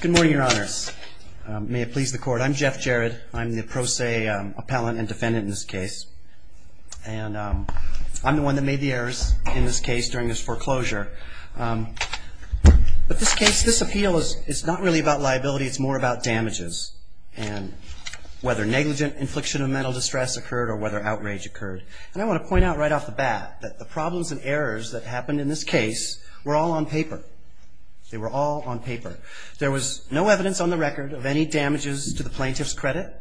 Good morning, your honors. May it please the court, I'm Jeff Jared. I'm the pro se appellant and defendant in this case. And I'm the one that made the errors in this case during this foreclosure. But this case, this appeal is not really about liability. It's more about damages and whether negligent infliction of mental distress occurred or whether outrage occurred. And I want to point out right off the bat that the problems and errors that happened in this case were all on paper. They were all on paper. There was no evidence on the record of any damages to the plaintiff's credit.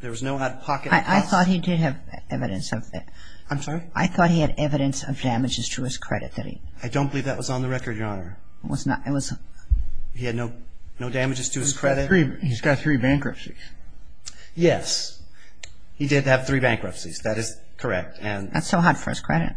There was no out-of-pocket costs. I thought he did have evidence of that. I'm sorry? I thought he had evidence of damages to his credit that he I don't believe that was on the record, your honor. It was not. It was He had no damages to his credit. He's got three bankruptcies. Yes. He did have three bankruptcies. That is correct. That's so hard for his credit.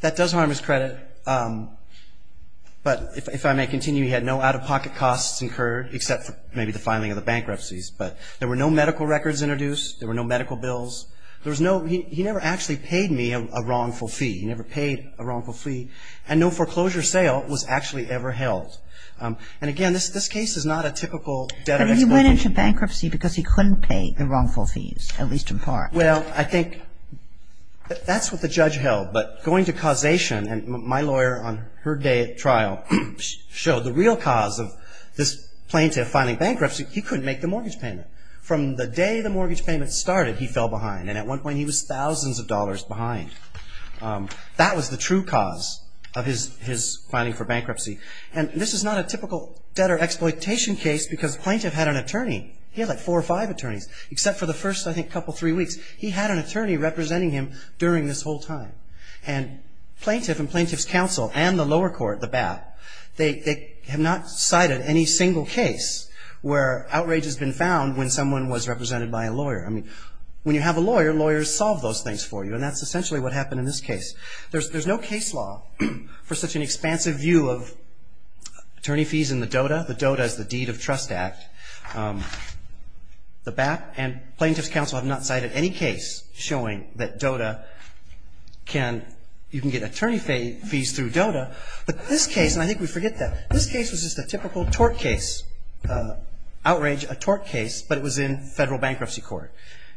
That does harm his credit. But if I may continue, he had no out-of-pocket costs incurred except for maybe the filing of the bankruptcies. But there were no medical records introduced. There were no medical bills. There was no He never actually paid me a wrongful fee. He never paid a wrongful fee. And no foreclosure sale was actually ever held. And, again, this case is not a typical debtor- But he went into bankruptcy because he couldn't pay the wrongful fees, at least in part. Well, I think that's what the judge held. But going to causation, and my lawyer on her day at trial showed the real cause of this plaintiff filing bankruptcy. He couldn't make the mortgage payment. From the day the mortgage payment started, he fell behind. And at one point, he was thousands of dollars behind. That was the true cause of his filing for bankruptcy. And this is not a typical debtor exploitation case because the plaintiff had an attorney. He had like four or five attorneys. Except for the first, I think, couple, three weeks, he had an attorney representing him during this whole time. And plaintiff and plaintiff's counsel and the lower court, the BAP, they have not cited any single case where outrage has been found when someone was represented by a lawyer. I mean, when you have a lawyer, lawyers solve those things for you. And that's essentially what happened in this case. There's no case law for such an expansive view of attorney fees in the DOTA. The DOTA is the Deed of Trust Act. The BAP and plaintiff's counsel have not cited any case showing that DOTA can even get attorney fees through DOTA. But this case, and I think we forget that, this case was just a typical tort case, outrage, a tort case, but it was in federal bankruptcy court.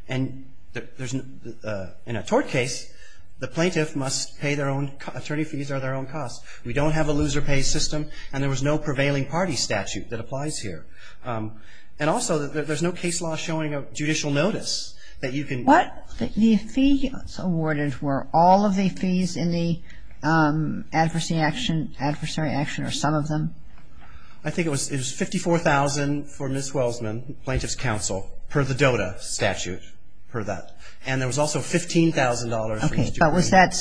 And in a tort case, the plaintiff must pay their own attorney fees or their own costs. We don't have a loser pay system, and there was no prevailing party statute that applies here. And also, there's no case law showing a judicial notice that you can. What fee was awarded? Were all of the fees in the adversary action or some of them? I think it was $54,000 for Ms. Welsman, plaintiff's counsel, per the DOTA statute, per that. And there was also $15,000 for Mr. Green. Okay, but was that,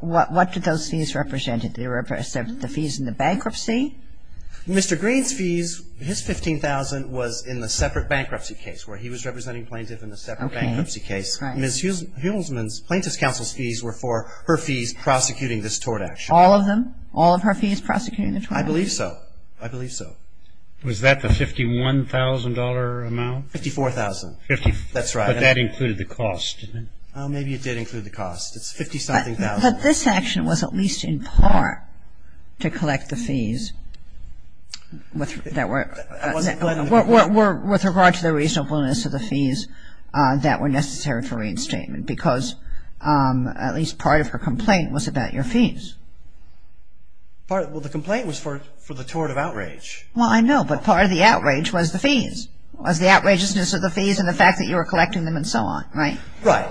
what did those fees represent? Did they represent the fees in the bankruptcy? Mr. Green's fees, his $15,000 was in the separate bankruptcy case, where he was representing plaintiff in the separate bankruptcy case. Ms. Welsman's, plaintiff's counsel's fees were for her fees prosecuting this tort action. All of them? All of her fees prosecuting the tort action? I believe so. I believe so. Was that the $51,000 amount? $54,000. That's right. But that included the cost, didn't it? Maybe it did include the cost. It's $50-something thousand. Well, but this action was at least in part to collect the fees that were, with regard to the reasonableness of the fees that were necessary for reinstatement because at least part of her complaint was about your fees. Well, the complaint was for the tort of outrage. Well, I know, but part of the outrage was the fees, was the outrageousness of the fees and the fact that you were collecting them and so on, right? Right.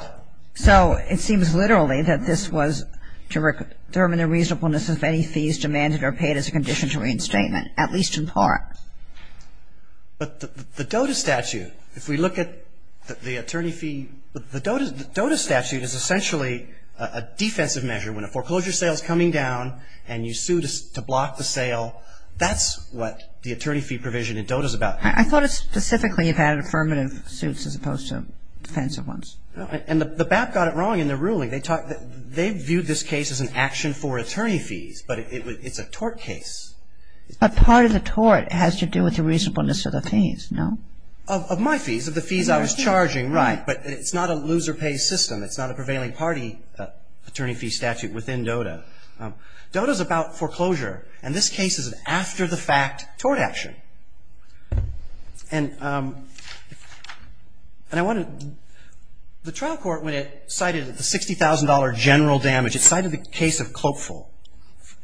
So it seems literally that this was to determine the reasonableness of any fees demanded or paid as a condition to reinstatement, at least in part. But the DOTA statute, if we look at the attorney fee, the DOTA statute is essentially a defensive measure. When a foreclosure sale is coming down and you sue to block the sale, that's what the attorney fee provision in DOTA is about. I thought it specifically had affirmative suits as opposed to defensive ones. And the BAP got it wrong in their ruling. They viewed this case as an action for attorney fees, but it's a tort case. But part of the tort has to do with the reasonableness of the fees, no? Of my fees, of the fees I was charging, right. But it's not a loser-pays system. It's not a prevailing party attorney fee statute within DOTA. DOTA is about foreclosure, and this case is an after-the-fact tort action. And I want to – the trial court, when it cited the $60,000 general damage, it cited the case of Clopeful.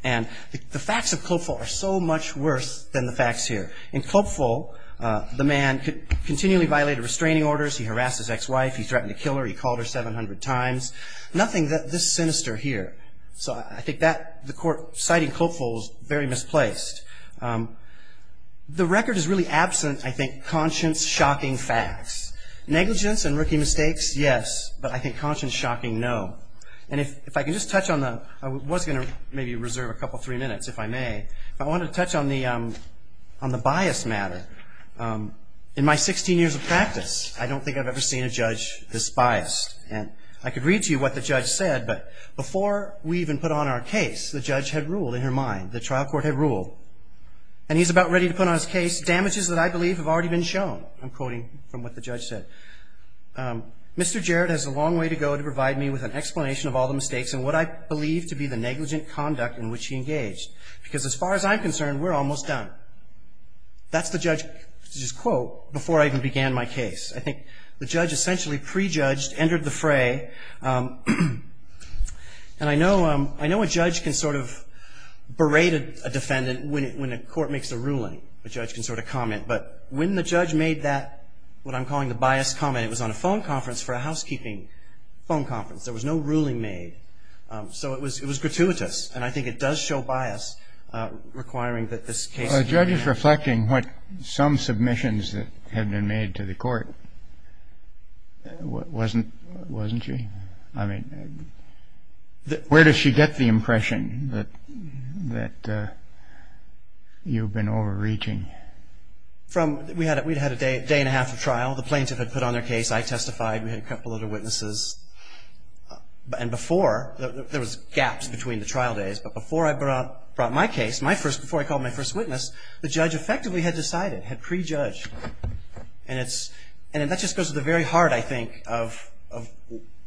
And the facts of Clopeful are so much worse than the facts here. In Clopeful, the man continually violated restraining orders. He harassed his ex-wife. He threatened to kill her. He called her 700 times. Nothing this sinister here. So I think that – the court citing Clopeful is very misplaced. The record is really absent, I think, conscience-shocking facts. Negligence and rookie mistakes, yes, but I think conscience-shocking, no. And if I can just touch on the – I was going to maybe reserve a couple, three minutes, if I may. But I wanted to touch on the bias matter. In my 16 years of practice, I don't think I've ever seen a judge this biased. And I could read to you what the judge said, but before we even put on our case, the judge had ruled in her mind, the trial court had ruled, and he's about ready to put on his case damages that I believe have already been shown. I'm quoting from what the judge said. Mr. Jarrett has a long way to go to provide me with an explanation of all the mistakes and what I believe to be the negligent conduct in which he engaged, because as far as I'm concerned, we're almost done. That's the judge's quote before I even began my case. I think the judge essentially prejudged, entered the fray. And I know a judge can sort of berate a defendant when a court makes a ruling. A judge can sort of comment. But when the judge made that, what I'm calling the biased comment, it was on a phone conference for a housekeeping phone conference. There was no ruling made. So it was gratuitous, and I think it does show bias requiring that this case be made. The judge is reflecting what some submissions that had been made to the court, wasn't she? I mean, where does she get the impression that you've been overreaching? We had a day and a half of trial. The plaintiff had put on their case. I testified. We had a couple other witnesses. And before, there was gaps between the trial days, but before I brought my case, before I called my first witness, the judge effectively had decided, had prejudged. And that just goes to the very heart, I think, of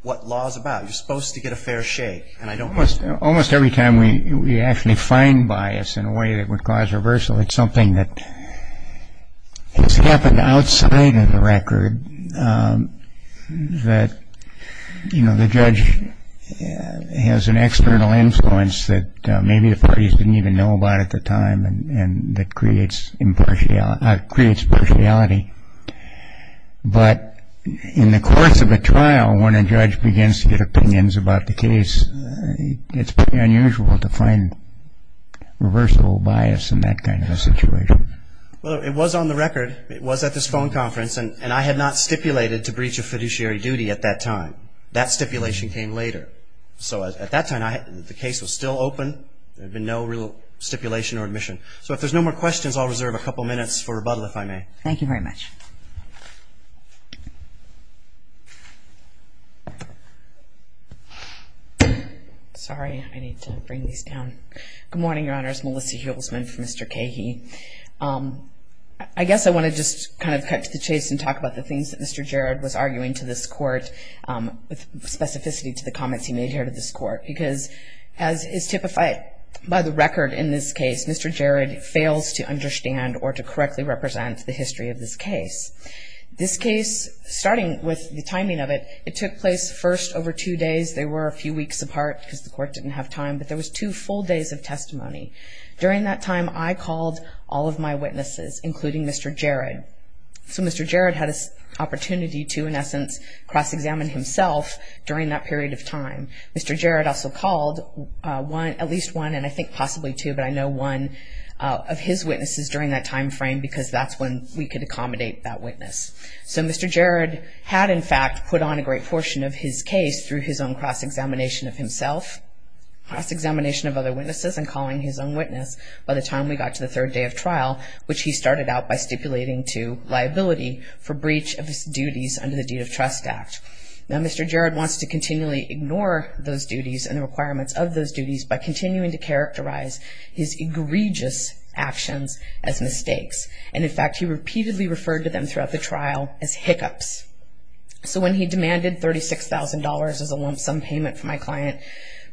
what law is about. You're supposed to get a fair shake. Almost every time we actually find bias in a way that would cause reversal, it's something that has happened outside of the record, that the judge has an external influence that maybe the parties didn't even know about at the time and that creates partiality. But in the course of a trial, when a judge begins to get opinions about the case, it's pretty unusual to find reversible bias in that kind of a situation. Well, it was on the record. It was at this phone conference. And I had not stipulated to breach of fiduciary duty at that time. That stipulation came later. So at that time, the case was still open. There had been no real stipulation or admission. So if there's no more questions, I'll reserve a couple minutes for rebuttal, if I may. Thank you very much. Sorry. I need to bring these down. Good morning, Your Honors. My name is Melissa Hulsman for Mr. Cahey. I guess I want to just kind of cut to the chase and talk about the things that Mr. Jarrett was arguing to this court, with specificity to the comments he made here to this court. Because as is typified by the record in this case, Mr. Jarrett fails to understand or to correctly represent the history of this case. This case, starting with the timing of it, it took place first over two days. They were a few weeks apart because the court didn't have time. But there was two full days of testimony. During that time, I called all of my witnesses, including Mr. Jarrett. So Mr. Jarrett had an opportunity to, in essence, cross-examine himself during that period of time. Mr. Jarrett also called at least one, and I think possibly two, but I know one of his witnesses during that time frame because that's when we could accommodate that witness. So Mr. Jarrett had, in fact, put on a great portion of his case through his own cross-examination of himself, cross-examination of other witnesses, and calling his own witness by the time we got to the third day of trial, which he started out by stipulating to liability for breach of his duties under the Deed of Trust Act. Now Mr. Jarrett wants to continually ignore those duties and the requirements of those duties by continuing to characterize his egregious actions as mistakes. And, in fact, he repeatedly referred to them throughout the trial as hiccups. So when he demanded $36,000 as a lump sum payment for my client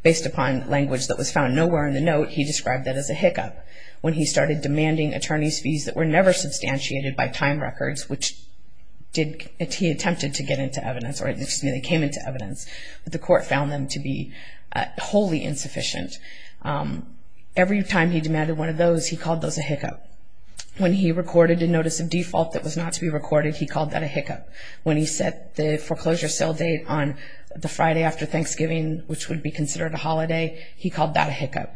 based upon language that was found nowhere in the note, he described that as a hiccup. When he started demanding attorney's fees that were never substantiated by time records, which he attempted to get into evidence, or excuse me, they came into evidence, but the court found them to be wholly insufficient. Every time he demanded one of those, he called those a hiccup. When he recorded a notice of default that was not to be recorded, he called that a hiccup. When he set the foreclosure sale date on the Friday after Thanksgiving, which would be considered a holiday, he called that a hiccup.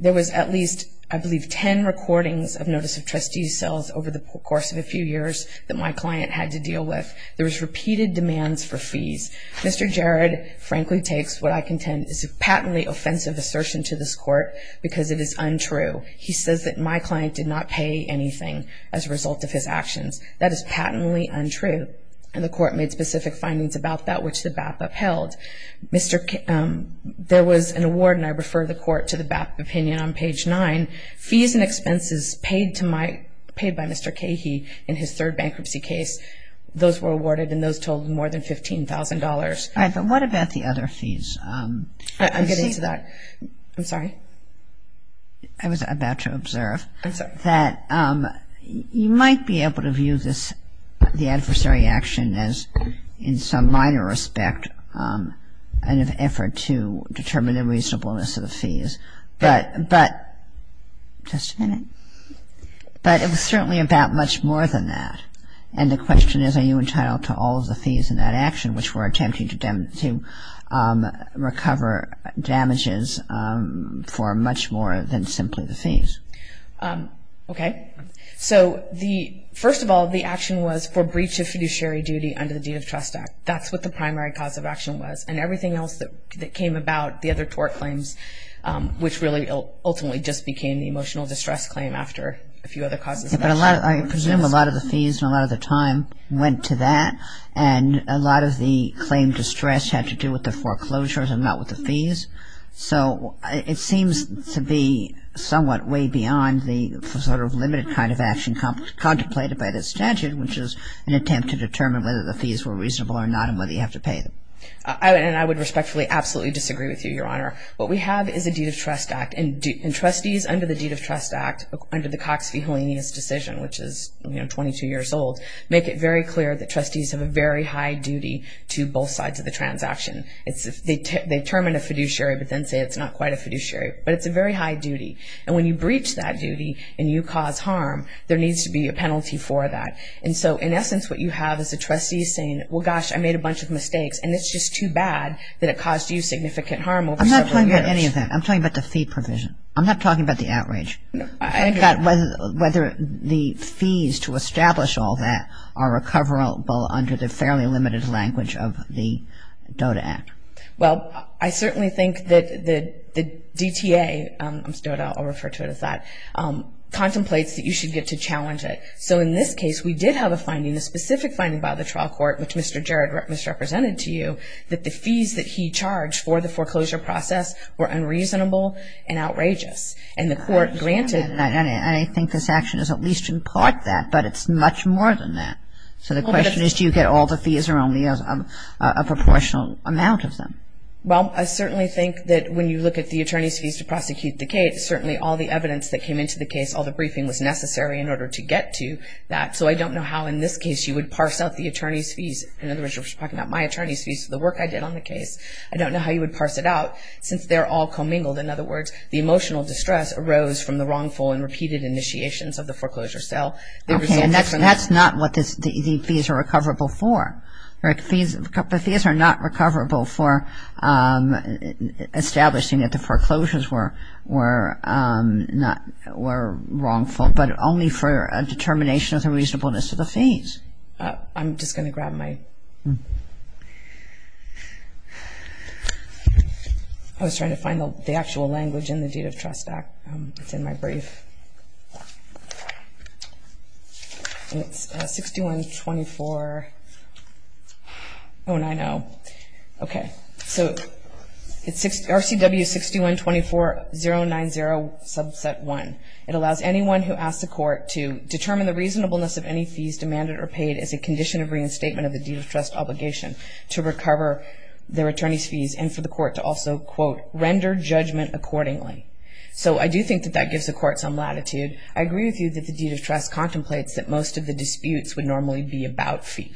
There was at least, I believe, 10 recordings of notice of trustee's sales over the course of a few years that my client had to deal with. There was repeated demands for fees. Mr. Jarrett frankly takes what I contend is a patently offensive assertion to this court because it is untrue. He says that my client did not pay anything as a result of his actions. That is patently untrue, and the court made specific findings about that, which the BAPA upheld. There was an award, and I refer the court to the BAPA opinion on page 9. Fees and expenses paid by Mr. Cahey in his third bankruptcy case, those were awarded, and those totaled more than $15,000. All right, but what about the other fees? I'm getting to that. I'm sorry. I was about to observe that you might be able to view the adversary action as in some minor respect an effort to determine the reasonableness of the fees, but it was certainly about much more than that, and the question is are you entitled to all of the fees in that action, which were attempting to recover damages for much more than simply the fees? Okay. So first of all, the action was for breach of fiduciary duty under the deed of trust act. That's what the primary cause of action was, and everything else that came about, the other tort claims, which really ultimately just became the emotional distress claim after a few other causes of action. I presume a lot of the fees and a lot of the time went to that, and a lot of the claim distress had to do with the foreclosures and not with the fees, so it seems to be somewhat way beyond the sort of limited kind of action contemplated by the statute, which is an attempt to determine whether the fees were reasonable or not and whether you have to pay them. And I would respectfully absolutely disagree with you, Your Honor. What we have is a deed of trust act, and trustees under the deed of trust act under the Cox v. Holanianus decision, which is 22 years old, make it very clear that trustees have a very high duty to both sides of the transaction. They determine a fiduciary but then say it's not quite a fiduciary, but it's a very high duty, and when you breach that duty and you cause harm, there needs to be a penalty for that. And so in essence what you have is a trustee saying, well, gosh, I made a bunch of mistakes, and it's just too bad that it caused you significant harm over several years. I'm not talking about any of that. I'm talking about the fee provision. I'm not talking about the outrage. I've got whether the fees to establish all that are recoverable under the fairly limited language of the DOTA Act. Well, I certainly think that the DTA, DOTA, I'll refer to it as that, contemplates that you should get to challenge it. So in this case we did have a finding, a specific finding by the trial court, which Mr. Jarrett misrepresented to you, that the fees that he charged for the foreclosure process were unreasonable and outrageous, and the court granted that. And I think this action is at least in part that, but it's much more than that. So the question is do you get all the fees or only a proportional amount of them? Well, I certainly think that when you look at the attorney's fees to prosecute the case, certainly all the evidence that came into the case, all the briefing was necessary in order to get to that. So I don't know how in this case you would parse out the attorney's fees. In other words, you're talking about my attorney's fees for the work I did on the case. I don't know how you would parse it out since they're all commingled. In other words, the emotional distress arose from the wrongful and repeated initiations of the foreclosure sale. Okay, and that's not what the fees are recoverable for. The fees are not recoverable for establishing that the foreclosures were wrongful, but only for a determination of the reasonableness of the fees. I'm just going to grab my... I was trying to find the actual language in the Deed of Trust Act. It's in my brief. It's 6124... Oh, and I know. Okay. So it's RCW 6124090 Subset 1. It allows anyone who asks the court to determine the reasonableness of any fees demanded or paid as a condition of reinstatement of the deed of trust obligation to recover their attorney's fees and for the court to also, quote, render judgment accordingly. So I do think that that gives the court some latitude. I agree with you that the deed of trust contemplates that most of the disputes would normally be about fee.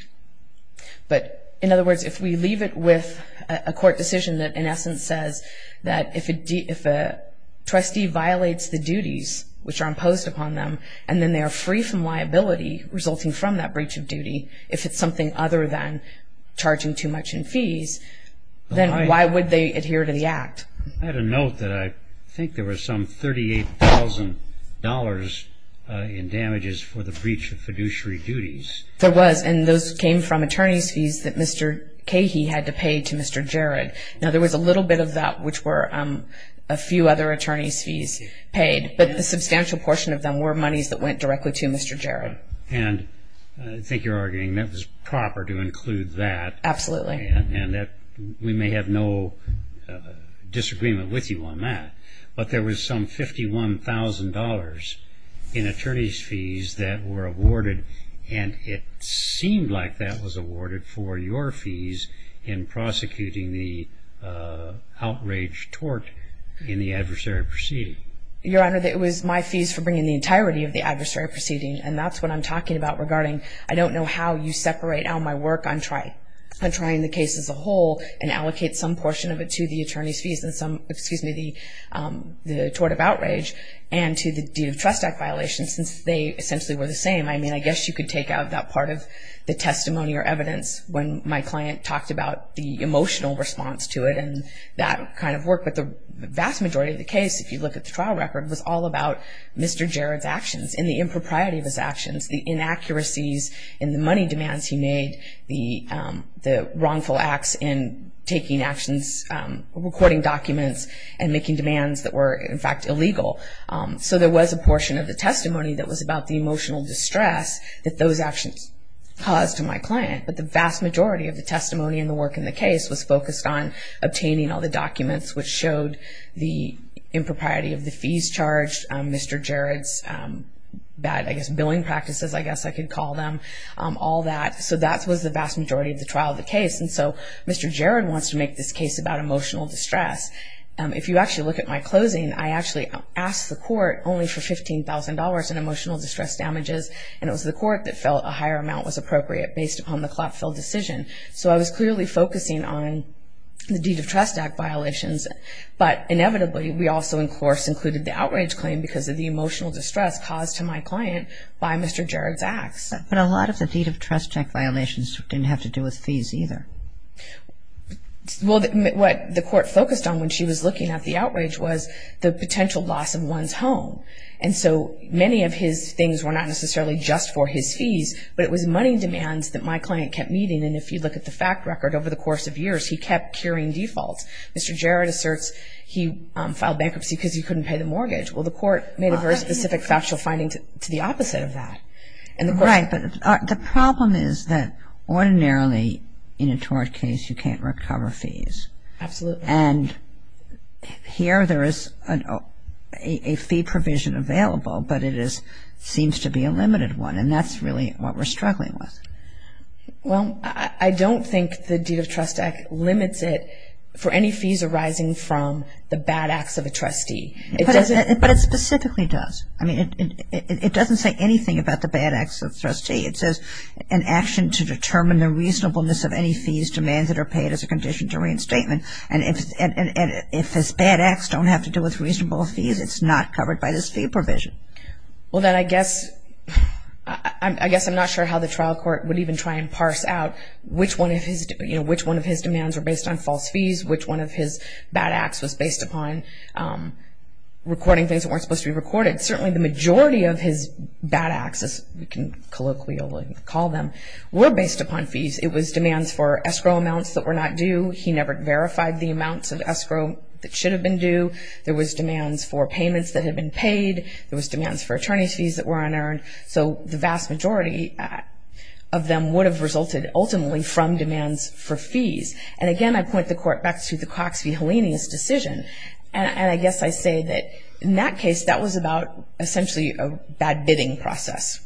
But, in other words, if we leave it with a court decision that, in essence, says that if a trustee violates the duties which are imposed upon them and then they are free from liability resulting from that breach of duty, if it's something other than charging too much in fees, then why would they adhere to the Act? I had a note that I think there was some $38,000 in damages for the breach of fiduciary duties. There was, and those came from attorney's fees that Mr. Cahey had to pay to Mr. Jarrett. Now, there was a little bit of that which were a few other attorney's fees paid, but the substantial portion of them were monies that went directly to Mr. Jarrett. And I think you're arguing that was proper to include that. Absolutely. And that we may have no disagreement with you on that. But there was some $51,000 in attorney's fees that were awarded, and it seemed like that was awarded for your fees in prosecuting the outrage tort in the adversary proceeding. Your Honor, it was my fees for bringing the entirety of the adversary proceeding, and that's what I'm talking about regarding I don't know how you separate out my work on trying the case as a whole and allocate some portion of it to the attorney's fees and some, excuse me, the tort of outrage and to the deed of trust act violations since they essentially were the same. I mean, I guess you could take out that part of the testimony or evidence when my client talked about the emotional response to it and that kind of work. But the vast majority of the case, if you look at the trial record, was all about Mr. Jarrett's actions and the impropriety of his actions, the inaccuracies in the money demands he made, the wrongful acts in taking actions, recording documents, and making demands that were, in fact, illegal. So there was a portion of the testimony that was about the emotional distress that those actions caused to my client. But the vast majority of the testimony and the work in the case was focused on the documents which showed the impropriety of the fees charged, Mr. Jarrett's bad, I guess, billing practices, I guess I could call them, all that. So that was the vast majority of the trial of the case. And so Mr. Jarrett wants to make this case about emotional distress. If you actually look at my closing, I actually asked the court only for $15,000 in emotional distress damages, and it was the court that felt a higher amount was appropriate based upon the clap-fill decision. So I was clearly focusing on the Deed of Trust Act violations, but inevitably we also, in course, included the outrage claim because of the emotional distress caused to my client by Mr. Jarrett's acts. But a lot of the Deed of Trust Act violations didn't have to do with fees either. Well, what the court focused on when she was looking at the outrage was the potential loss of one's home. But it was money demands that my client kept meeting, and if you look at the fact record, over the course of years he kept carrying defaults. Mr. Jarrett asserts he filed bankruptcy because he couldn't pay the mortgage. Well, the court made a very specific factual finding to the opposite of that. Right, but the problem is that ordinarily in a tort case you can't recover fees. Absolutely. And here there is a fee provision available, but it seems to be a limited one, and that's really what we're struggling with. Well, I don't think the Deed of Trust Act limits it for any fees arising from the bad acts of a trustee. But it specifically does. I mean, it doesn't say anything about the bad acts of a trustee. It says an action to determine the reasonableness of any fees demands that are paid as a condition to reinstatement. And if his bad acts don't have to do with reasonable fees, it's not covered by this fee provision. Well, then I guess I'm not sure how the trial court would even try and parse out which one of his demands were based on false fees, which one of his bad acts was based upon recording things that weren't supposed to be recorded. Certainly the majority of his bad acts, as we can colloquially call them, were based upon fees. It was demands for escrow amounts that were not due. He never verified the amounts of escrow that should have been due. There was demands for payments that had been paid. There was demands for attorney's fees that were unearned. So the vast majority of them would have resulted ultimately from demands for fees. And again, I point the court back to the Cox v. Hellenius decision. And I guess I say that in that case, that was about essentially a bad bidding process.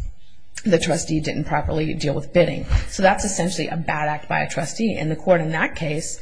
The trustee didn't properly deal with bidding. So that's essentially a bad act by a trustee. And the court in that case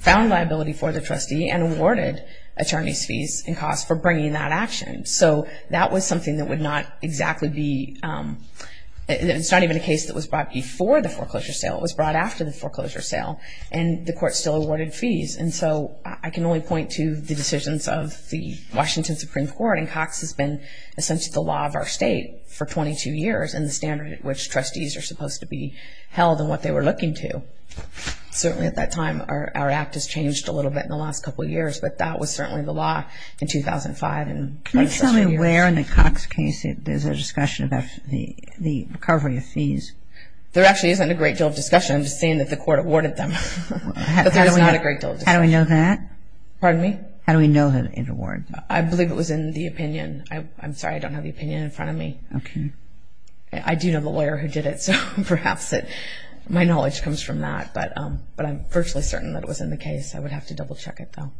found liability for the trustee and awarded attorney's fees and costs for bringing that action. So that was something that would not exactly be – it's not even a case that was brought before the foreclosure sale. It was brought after the foreclosure sale. And the court still awarded fees. And so I can only point to the decisions of the Washington Supreme Court. And Cox has been essentially the law of our state for 22 years and the standard at which trustees are supposed to be held and what they were looking to. So certainly at that time, our act has changed a little bit in the last couple of years. But that was certainly the law in 2005. Can you tell me where in the Cox case there's a discussion about the recovery of fees? There actually isn't a great deal of discussion. I'm just saying that the court awarded them. But there's not a great deal of discussion. How do we know that? Pardon me? How do we know that it's awarded? I believe it was in the opinion. I'm sorry, I don't have the opinion in front of me. Okay. I do know the lawyer who did it. So perhaps my knowledge comes from that. But I'm virtually certain that it was in the case. I would have to double-check it, though.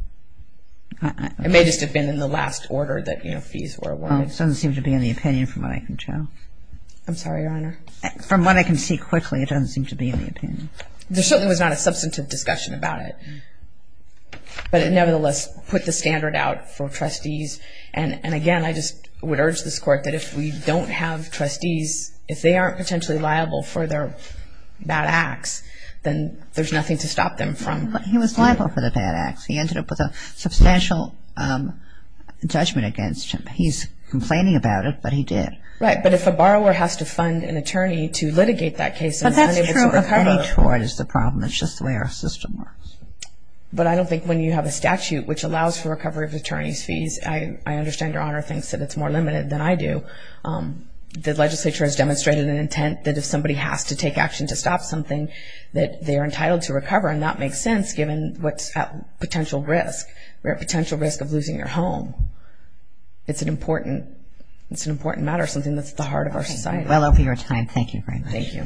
It may just have been in the last order that fees were awarded. It doesn't seem to be in the opinion from what I can tell. I'm sorry, Your Honor? From what I can see quickly, it doesn't seem to be in the opinion. There certainly was not a substantive discussion about it. But it nevertheless put the standard out for trustees. And, again, I just would urge this Court that if we don't have trustees, if they aren't potentially liable for their bad acts, then there's nothing to stop them from doing it. But he was liable for the bad acts. He ended up with a substantial judgment against him. He's complaining about it, but he did. Right. But if a borrower has to fund an attorney to litigate that case and is unable to recover it. But that's true. A penny toward is the problem. It's just the way our system works. But I don't think when you have a statute which allows for recovery of attorney's fees, I understand Your Honor thinks that it's more limited than I do. The legislature has demonstrated an intent that if somebody has to take action to stop something, that they are entitled to recover. And that makes sense given what's at potential risk. We're at potential risk of losing your home. It's an important matter, something that's at the heart of our society. Well, I'll be your time. Thank you very much. Thank you. I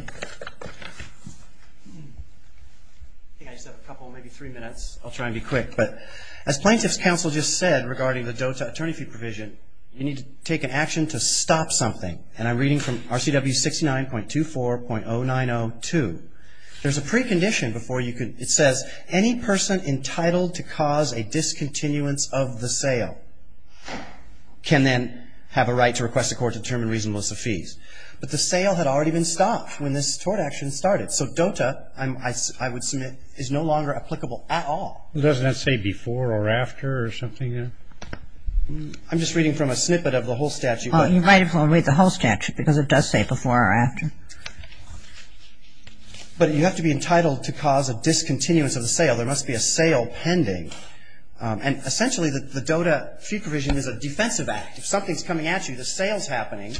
think I just have a couple, maybe three minutes. I'll try and be quick. But as Plaintiff's Counsel just said regarding the DOTA attorney fee provision, you need to take an action to stop something. And I'm reading from RCW 69.24.0902. There's a precondition before you can. It says any person entitled to cause a discontinuance of the sale can then have a right to request a court to determine reasonableness of fees. But the sale had already been stopped when this tort action started. So DOTA, I would submit, is no longer applicable at all. Doesn't that say before or after or something? I'm just reading from a snippet of the whole statute. Well, you might as well read the whole statute because it does say before or after. But you have to be entitled to cause a discontinuance of the sale. There must be a sale pending. And essentially the DOTA fee provision is a defensive act. If something's coming at you, the sale's happening,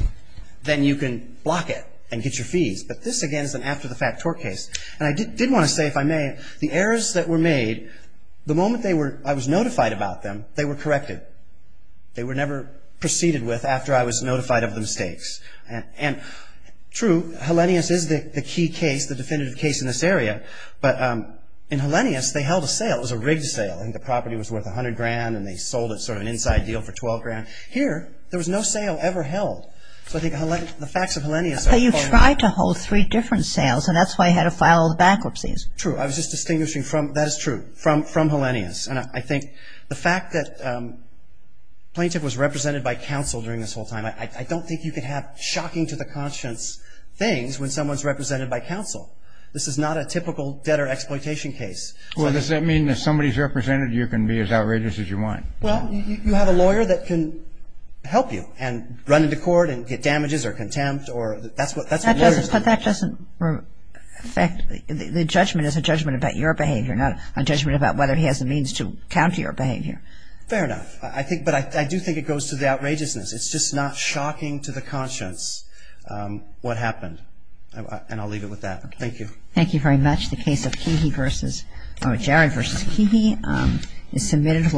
then you can block it and get your fees. But this, again, is an after-the-fact tort case. And I did want to say, if I may, the errors that were made, the moment they were I was notified about them, they were corrected. They were never proceeded with after I was notified of the mistakes. And true, Hellenius is the key case, the definitive case in this area. But in Hellenius, they held a sale. It was a rigged sale. I think the property was worth $100,000, and they sold it sort of an inside deal for $12,000. Here, there was no sale ever held. So I think the facts of Hellenius are falling apart. But you tried to hold three different sales, and that's why you had to file the bankruptcies. True. I was just distinguishing from – that is true, from Hellenius. And I think the fact that a plaintiff was represented by counsel during this whole time, I don't think you can have shocking to the conscience things when someone's represented by counsel. This is not a typical debtor exploitation case. Well, does that mean if somebody's represented, you can be as outrageous as you want? Well, you have a lawyer that can help you and run into court and get damages or contempt. That's what lawyers do. But that doesn't affect – the judgment is a judgment about your behavior, not a judgment about whether he has the means to counter your behavior. Fair enough. I think – but I do think it goes to the outrageousness. It's just not shocking to the conscience what happened. And I'll leave it with that. Thank you. Thank you very much. The case of Keehey versus – or Jared versus Keehey is submitted.